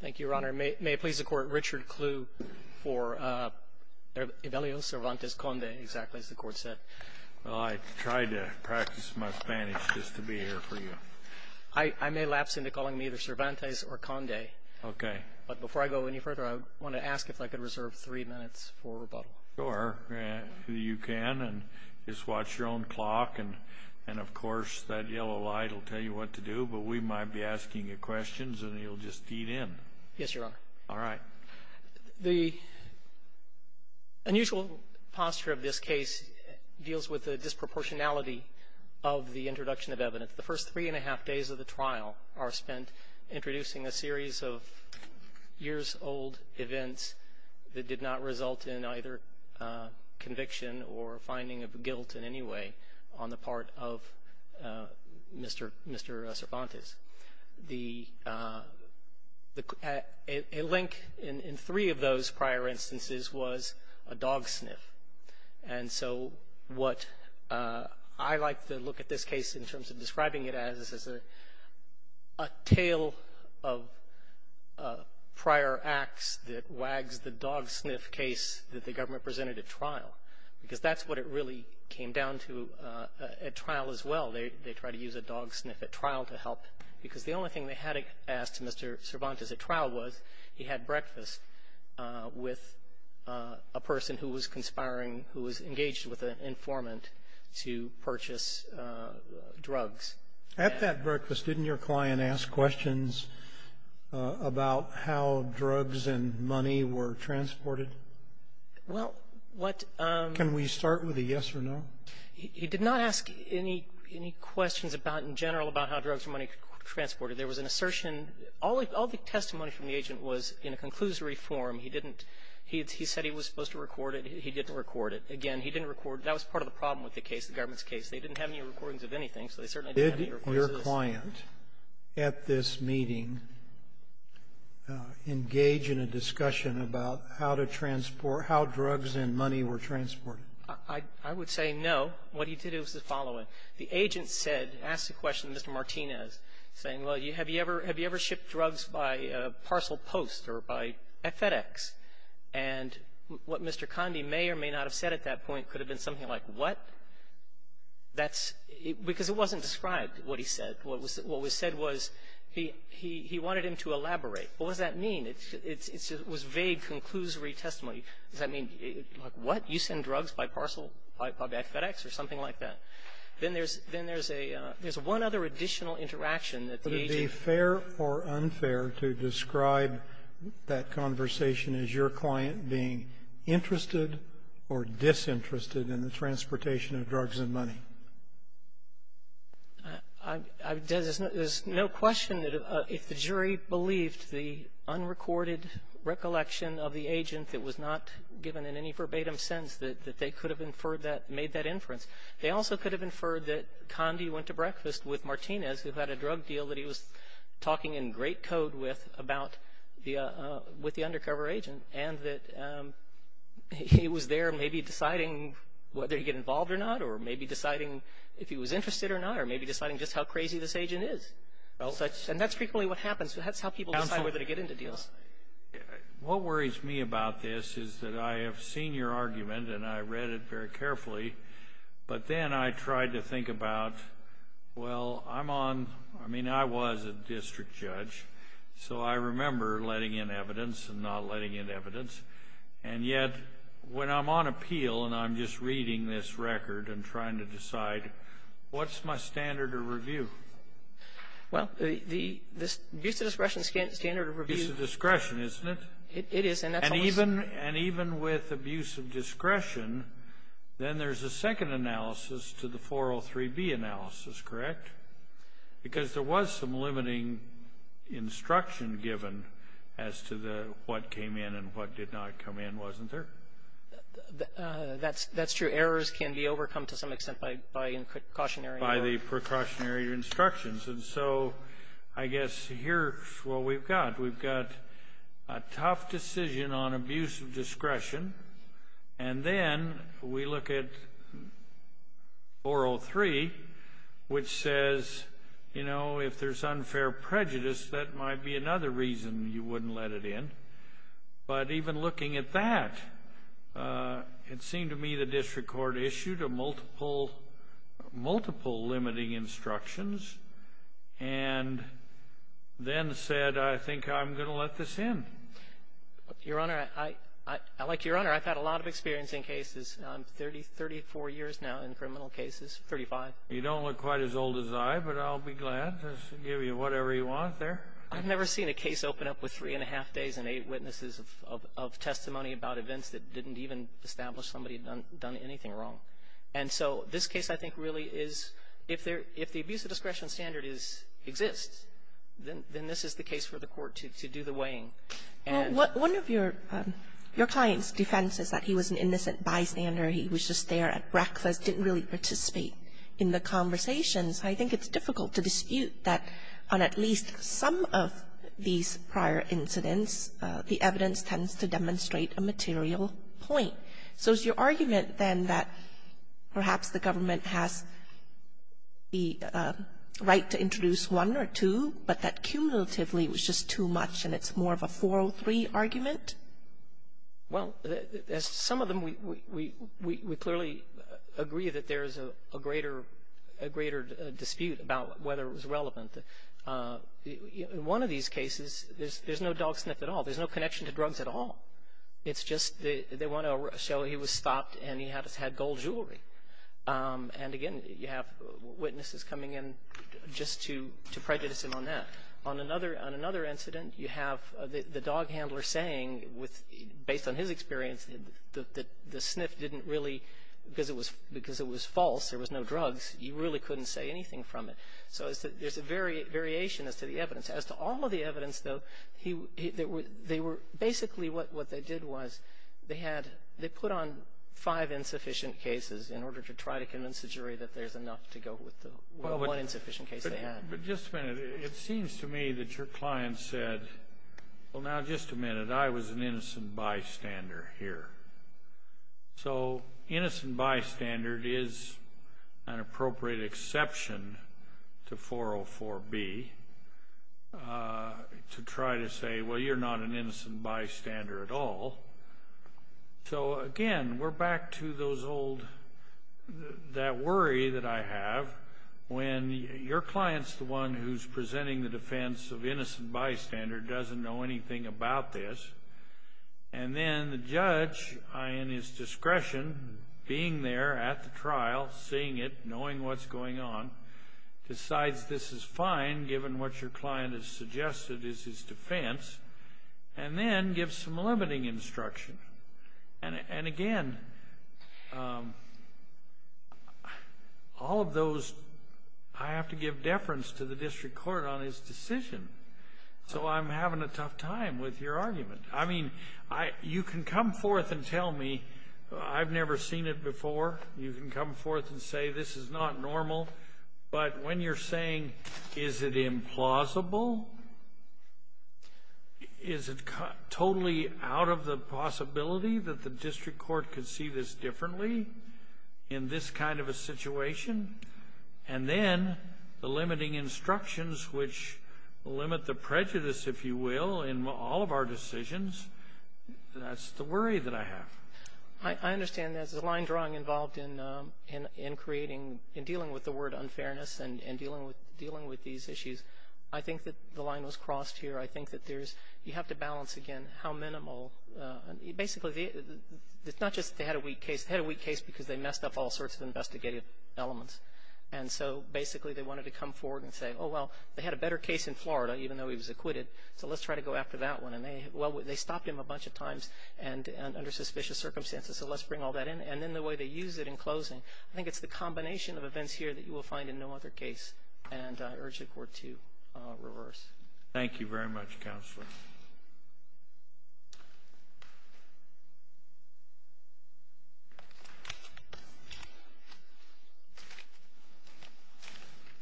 Thank you, Your Honor. May it please the Court, Richard Kluh for Evelio Cervantes-Conde, exactly as the Court said. Well, I tried to practice my Spanish just to be here for you. I may lapse into calling me either Cervantes or Conde. Okay. But before I go any further, I want to ask if I could reserve three minutes for rebuttal. Sure, you can, and just watch your own clock, and of course that yellow light will tell you what to do, but we might be asking you questions, and you'll just feed in. Yes, Your Honor. All right. The unusual posture of this case deals with the disproportionality of the introduction of evidence. The first three and a half days of the trial are spent introducing a series of years-old events that did not result in either conviction or finding of guilt in any way on the part of Mr. Cervantes. A link in three of those prior instances was a dog sniff, and so what I like to look at this case in terms of describing it as is a tale of prior acts that wags the dog sniff case that the government presented at trial, because that's what it really came down to at trial as well. They tried to use a dog sniff at trial to help, because the only thing they had asked Mr. Cervantes at trial was he had breakfast with a person who was conspiring, who was engaged with an informant to purchase drugs. At that breakfast, didn't your client ask questions about how drugs and money were transported? Well, what — Can we start with a yes or no? He did not ask any questions about, in general, about how drugs and money were transported. There was an assertion. All the testimony from the agent was in a conclusory form. He didn't — he said he was supposed to record it. He didn't record it. Again, he didn't record — that was part of the problem with the case, the government's case. They didn't have any recordings of anything, so they certainly didn't have any recordings of this. Did your client at this meeting engage in a discussion about how to transport — how drugs and money were transported? I would say no. What he did was the following. The agent said — asked the question to Mr. Martinez, saying, well, have you ever shipped drugs by parcel post or by FedEx? And what Mr. Conde may or may not have said at that point could have been something like, what? That's — because it wasn't described, what he said. What was — what was said was he — he wanted him to elaborate. What does that mean? It's — it was vague, conclusory testimony. Does that mean, like, what? You send drugs by parcel, by FedEx, or something like that? Then there's — then there's a — there's one other additional interaction that the agent — that conversation, is your client being interested or disinterested in the transportation of drugs and money? I — there's no question that if the jury believed the unrecorded recollection of the agent that was not given in any verbatim sense, that they could have inferred that — made that inference. They also could have inferred that Conde went to breakfast with Martinez, who had a great code with — about the — with the undercover agent, and that he was there maybe deciding whether to get involved or not, or maybe deciding if he was interested or not, or maybe deciding just how crazy this agent is. Well — And that's frequently what happens. That's how people decide whether to get into deals. What worries me about this is that I have seen your argument, and I read it very carefully, but then I tried to think about, well, I'm on — I mean, I was a district judge, so I remember letting in evidence and not letting in evidence. And yet, when I'm on appeal, and I'm just reading this record and trying to decide, what's my standard of review? Well, the — the abuse of discretion standard of review — Abuse of discretion, isn't it? It is, and that's almost — Even — and even with abuse of discretion, then there's a second analysis to the 403B analysis, correct? Because there was some limiting instruction given as to the — what came in and what did not come in, wasn't there? That's — that's true. Errors can be overcome to some extent by precautionary — By the precautionary instructions. And so I guess here's what we've got. We've got a tough decision on abuse of discretion, and then we look at 403, which says, you know, if there's unfair prejudice, that might be another reason you wouldn't let it in. But even looking at that, it seemed to me the district court issued a multiple — multiple limiting instructions and then said, I think I'm going to let this in. Your Honor, I — I — like, Your Honor, I've had a lot of experience in cases. I'm 30 — 34 years now in criminal cases, 35. You don't look quite as old as I, but I'll be glad to give you whatever you want there. I've never seen a case open up with three-and-a-half days and eight witnesses of testimony about events that didn't even establish somebody had done anything wrong. And so this case, I think, really is — if there — if the abuse of discretion standard is — exists, then this is the case for the Court to do the weighing. And — Well, one of your — your client's defense is that he was an innocent bystander. He was just there at breakfast, didn't really participate in the conversations. I think it's difficult to dispute that on at least some of these prior incidents, the evidence tends to demonstrate a material point. So is your argument, then, that perhaps the government has the right to introduce one or two, but that cumulatively was just too much and it's more of a 403 argument? Well, as some of them, we clearly agree that there is a greater dispute about whether it was relevant. In one of these cases, there's no dog sniff at all. There's no connection to drugs at all. It's just they want to show he was stopped and he had gold jewelry. And again, you have witnesses coming in just to prejudice him on that. On another incident, you have the dog handler saying, based on his experience, that the sniff didn't really — because it was false, there was no drugs, you really couldn't say anything from it. So there's a variation as to the evidence. As to all of the evidence, though, they were — basically what they did was they had — they put on five insufficient cases in order to try to convince the jury that there's enough to go with the one insufficient case they had. But just a minute, it seems to me that your client said, well, now just a minute, I was an innocent bystander here. So innocent bystander is an appropriate exception to 404B to try to say, well, you're not an innocent bystander at all. So again, we're back to those old — that worry that I have when your client's the one who's presenting the defense of innocent bystander, doesn't know anything about this, and then the judge, in his discretion, being there at the trial, seeing it, knowing what's going on, decides this is fine given what your client has suggested is his defense, and then gives some limiting instruction. And again, all of those — I have to give deference to the district court on his decision. So I'm having a tough time with your argument. I mean, you can come forth and tell me I've never seen it before. You can come forth and say this is not normal. But when you're saying is it implausible, is it totally out of the possibility that the district court could see this differently in this kind of a situation, and then the limiting instructions which limit the prejudice, if you will, in all of our decisions, that's the worry that I have. I understand there's a line drawing involved in creating — in dealing with the word unfairness and dealing with these issues. I think that the line was crossed here. I think that there's — you have to balance, again, how minimal — basically, it's not just they had a weak case. They had a weak case because they messed up all sorts of investigative elements. And so, basically, they wanted to come forward and say, oh, well, they had a better case in Florida, even though he was acquitted, so let's try to go after that one. And they — well, they stopped him a bunch of times and under suspicious circumstances, so let's bring all that in. And then the way they use it in closing, I think it's the combination of events here that you will find in no other case, and I urge the Court to reverse. Thank you very much, Counselor.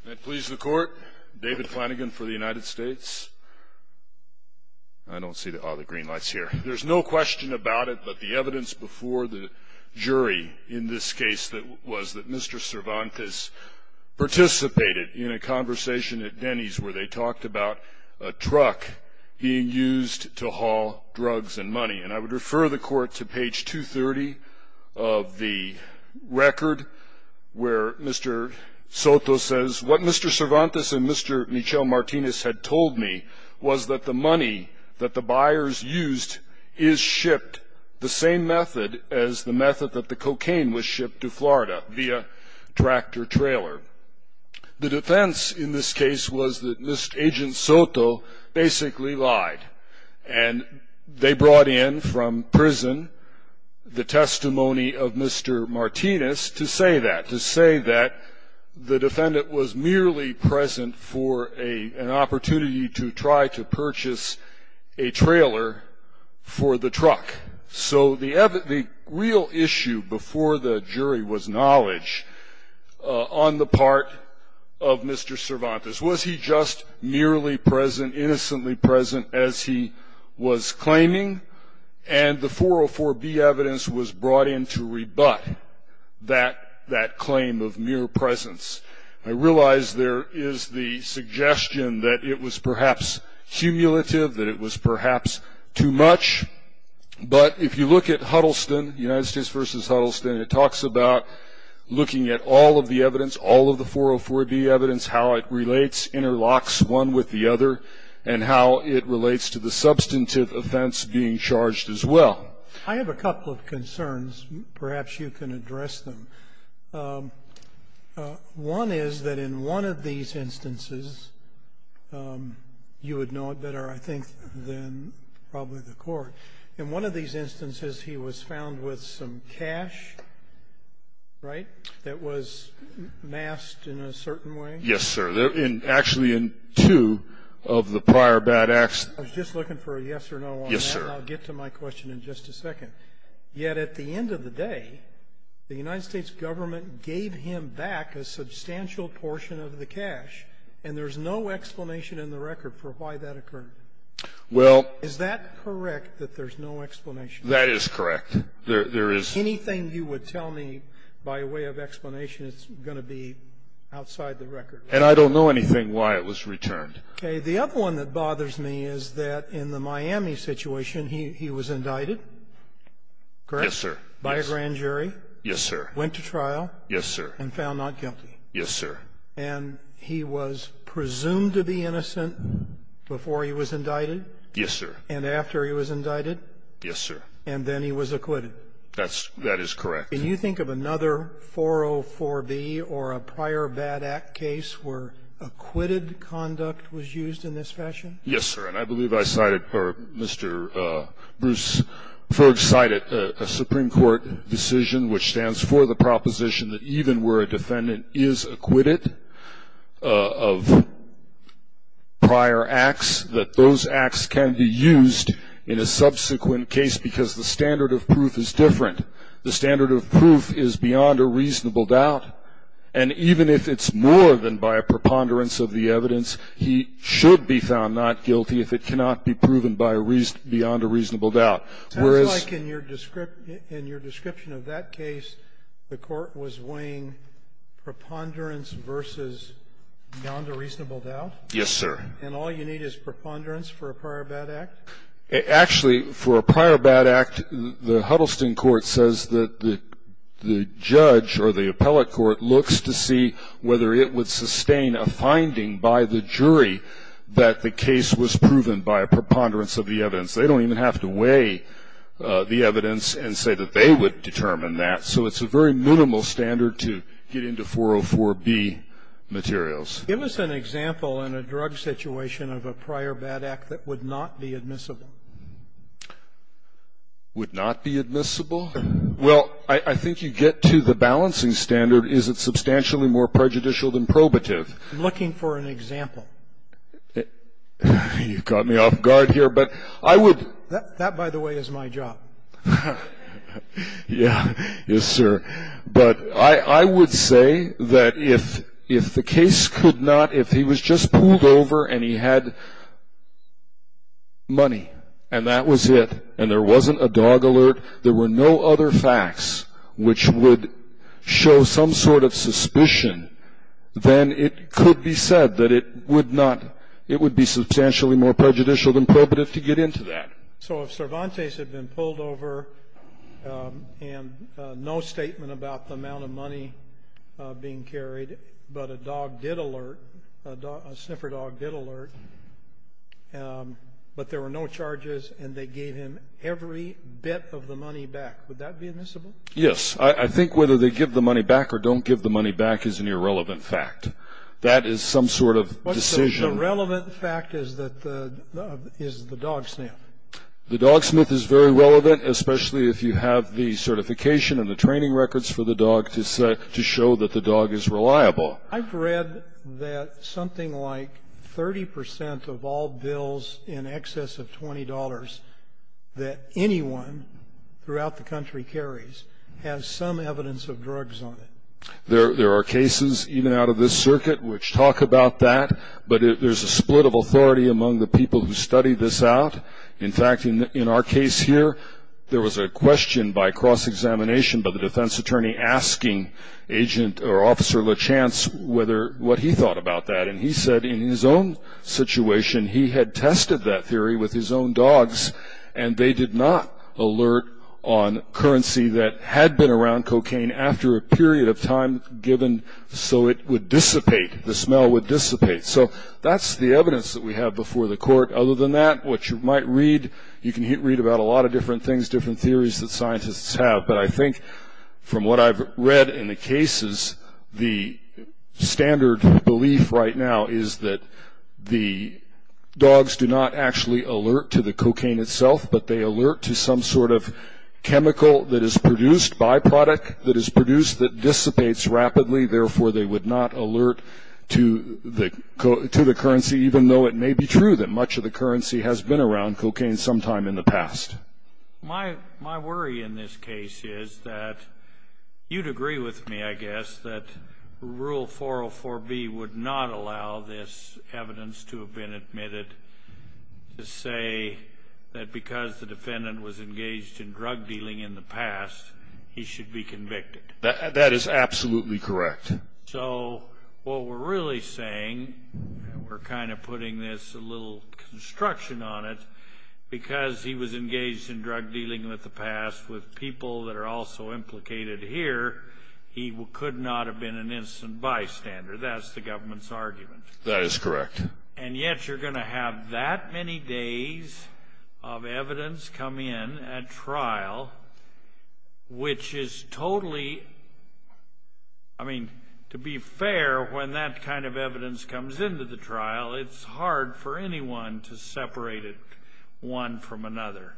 That please the Court. David Flanagan for the United States. I don't see the — oh, the green light's here. There's no question about it, but the evidence before the jury in this case was that Mr. Cervantes participated in a conversation at Denny's where they talked about a truck being used to haul drugs and money. And I would refer the Court to page 230 of the record where Mr. Soto says, what Mr. Cervantes and Mr. Michel Martinez had told me was that the money that the buyers used is shipped the same method as the method that the cocaine was shipped to Florida via tractor-trailer. The defense in this case was that Agent Soto basically lied, and they brought in from prison the testimony of Mr. Martinez to say that, the defendant was merely present for an opportunity to try to purchase a trailer for the truck. So the real issue before the jury was knowledge on the part of Mr. Cervantes. Was he just merely present, innocently present as he was claiming? And the 404B evidence was brought in to rebut that claim of mere presence. I realize there is the suggestion that it was perhaps cumulative, that it was perhaps too much, but if you look at Huddleston, United States v. Huddleston, it talks about looking at all of the evidence, all of the 404B evidence, how it relates, interlocks one with the other, and how it relates to the substantive offense being charged as well. I have a couple of concerns. Perhaps you can address them. One is that in one of these instances, you would know it better, I think, than probably the court. In one of these instances, he was found with some cash, right, that was masked in a certain way? Yes, sir. Actually, in two of the prior bad acts. I was just looking for a yes or no on that. Yes, sir. And I'll get to my question in just a second. Yet at the end of the day, the United States government gave him back a substantial portion of the cash, and there's no explanation in the record for why that occurred. Well. Is that correct, that there's no explanation? That is correct. Anything you would tell me by way of explanation is going to be outside the record. And I don't know anything why it was returned. Okay. The other one that bothers me is that in the Miami situation, he was indicted, correct? Yes, sir. By a grand jury? Yes, sir. Went to trial? Yes, sir. And found not guilty? Yes, sir. And he was presumed to be innocent before he was indicted? Yes, sir. And after he was indicted? Yes, sir. And then he was acquitted? That is correct. Can you think of another 404B or a prior bad act case where acquitted conduct was used in this fashion? Yes, sir. And I believe I cited, or Mr. Bruce Ferg cited a Supreme Court decision which stands for the proposition that even where a defendant is acquitted of prior acts, that those acts can be used in a subsequent case because the standard of proof is different. The standard of proof is beyond a reasonable doubt. And even if it's more than by a preponderance of the evidence, he should be found not guilty if it cannot be proven by a reason beyond a reasonable doubt. Whereas ---- It sounds like in your description of that case, the Court was weighing preponderance versus beyond a reasonable doubt? Yes, sir. And all you need is preponderance for a prior bad act? Actually, for a prior bad act, the Huddleston Court says that the judge or the appellate court looks to see whether it would sustain a finding by the jury that the case was proven by a preponderance of the evidence. They don't even have to weigh the evidence and say that they would determine that. So it's a very minimal standard to get into 404B materials. Give us an example in a drug situation of a prior bad act that would not be admissible. Would not be admissible? Well, I think you get to the balancing standard. Is it substantially more prejudicial than probative? I'm looking for an example. You caught me off guard here, but I would ---- That, by the way, is my job. Yes, sir. But I would say that if the case could not ---- if he was just pulled over and he had money and that was it and there wasn't a dog alert, there were no other facts which would show some sort of suspicion, then it could be said that it would not ---- it would be substantially more prejudicial than probative to get into that. So if Cervantes had been pulled over and no statement about the amount of money being carried, but a dog did alert, a sniffer dog did alert, but there were no charges and they gave him every bit of the money back, would that be admissible? Yes. I think whether they give the money back or don't give the money back is an irrelevant fact. That is some sort of decision. The relevant fact is that the dog sniff. The dog sniff is very relevant, especially if you have the certification and the training records for the dog to show that the dog is reliable. I've read that something like 30 percent of all bills in excess of $20 that anyone throughout the country carries has some evidence of drugs on it. There are cases even out of this circuit which talk about that, but there's a split of authority among the people who study this out. In fact, in our case here, there was a question by cross-examination by the defense attorney asking Agent or Officer LaChance what he thought about that, and he said in his own situation he had tested that theory with his own dogs and they did not alert on currency that had been around cocaine after a period of time given so it would dissipate, the smell would dissipate. So that's the evidence that we have before the court. Other than that, what you might read, you can read about a lot of different things, different theories that scientists have, but I think from what I've read in the cases, the standard belief right now is that the dogs do not actually alert to the cocaine itself, but they alert to some sort of chemical that is produced, byproduct that is produced that dissipates rapidly, therefore they would not alert to the currency, even though it may be true that much of the currency has been around cocaine sometime in the past. My worry in this case is that you'd agree with me, I guess, that Rule 404B would not allow this evidence to have been admitted to say that because the defendant was engaged in drug dealing in the past, he should be convicted. That is absolutely correct. So what we're really saying, and we're kind of putting this little construction on it, because he was engaged in drug dealing in the past with people that are also implicated here, he could not have been an instant bystander. That's the government's argument. That is correct. And yet you're going to have that many days of evidence come in at trial, which is totally, I mean, to be fair, when that kind of evidence comes into the trial, it's hard for anyone to separate it one from another.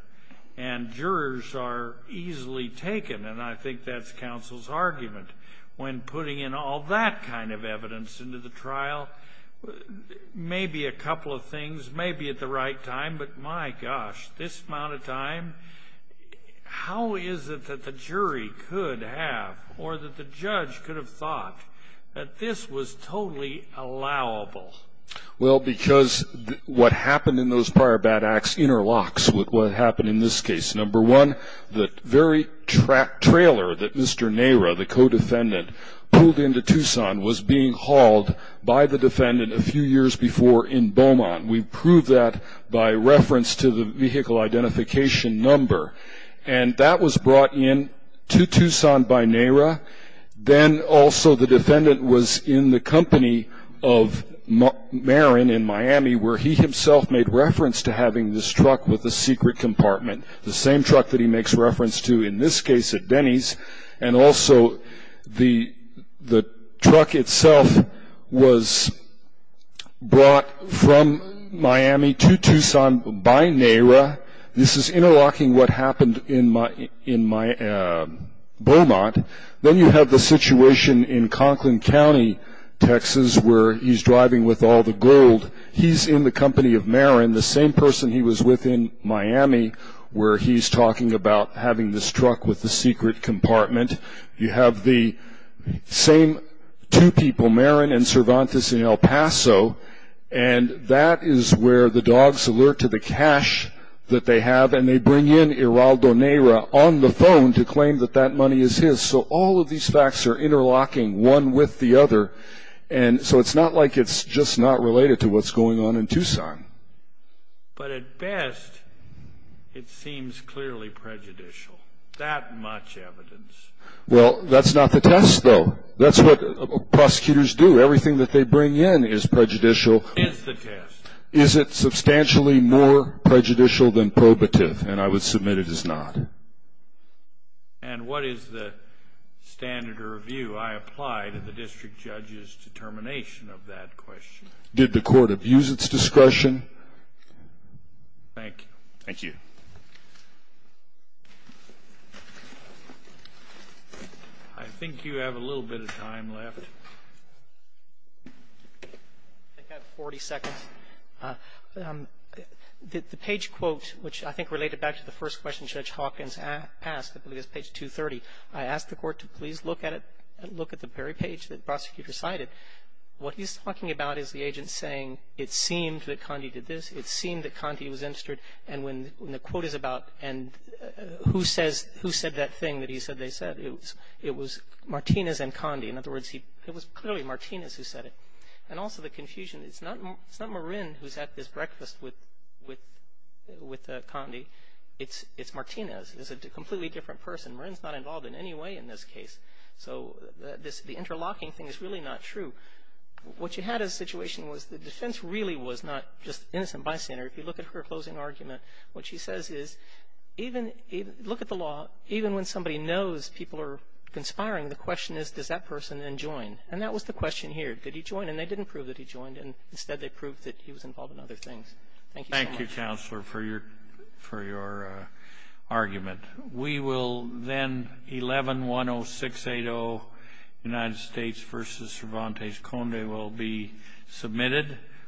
And jurors are easily taken, and I think that's counsel's argument. When putting in all that kind of evidence into the trial, maybe a couple of things may be at the right time, but, my gosh, this amount of time, how is it that the jury could have or that the judge could have thought that this was totally allowable? Well, because what happened in those prior bad acts interlocks with what happened in this case. Number one, the very trailer that Mr. Nehra, the co-defendant, pulled into Tucson, was being hauled by the defendant a few years before in Beaumont. We prove that by reference to the vehicle identification number. And that was brought in to Tucson by Nehra. Then also the defendant was in the company of Marin in Miami, where he himself made reference to having this truck with a secret compartment, the same truck that he makes reference to in this case at Denny's. And also the truck itself was brought from Miami to Tucson by Nehra. This is interlocking what happened in Beaumont. Then you have the situation in Conklin County, Texas, where he's driving with all the gold. He's in the company of Marin, the same person he was with in Miami, where he's talking about having this truck with a secret compartment. You have the same two people, Marin and Cervantes in El Paso, and that is where the dogs alert to the cash that they have, and they bring in Geraldo Nehra on the phone to claim that that money is his. So all of these facts are interlocking one with the other, and so it's not like it's just not related to what's going on in Tucson. But at best, it seems clearly prejudicial. That much evidence. Well, that's not the test, though. That's what prosecutors do. Everything that they bring in is prejudicial. Is the test. Is it substantially more prejudicial than probative? And I would submit it is not. And what is the standard of review? I apply to the district judge's determination of that question. Did the court abuse its discretion? Thank you. Thank you. I think you have a little bit of time left. I have 40 seconds. The page quote, which I think related back to the first question Judge Hawkins asked, I believe it's page 230, I asked the court to please look at it and look at the very page that the prosecutor cited. What he's talking about is the agent saying it seemed that Condi did this. It seemed that Condi was interested. And when the quote is about who said that thing that he said they said, it was Martinez and Condi. In other words, it was clearly Martinez who said it. And also the confusion. It's not Marin who's at this breakfast with Condi. It's Martinez. It's a completely different person. Marin's not involved in any way in this case. So the interlocking thing is really not true. What you had as a situation was the defense really was not just innocent bystander. If you look at her closing argument, what she says is, look at the law. Even when somebody knows people are conspiring, the question is, does that person then join? And that was the question here. Did he join? And they didn't prove that he joined. Instead, they proved that he was involved in other things. Thank you so much. Thank you, Counselor, for your argument. We will then, 11-10680, United States v. Cervantes Conde will be submitted.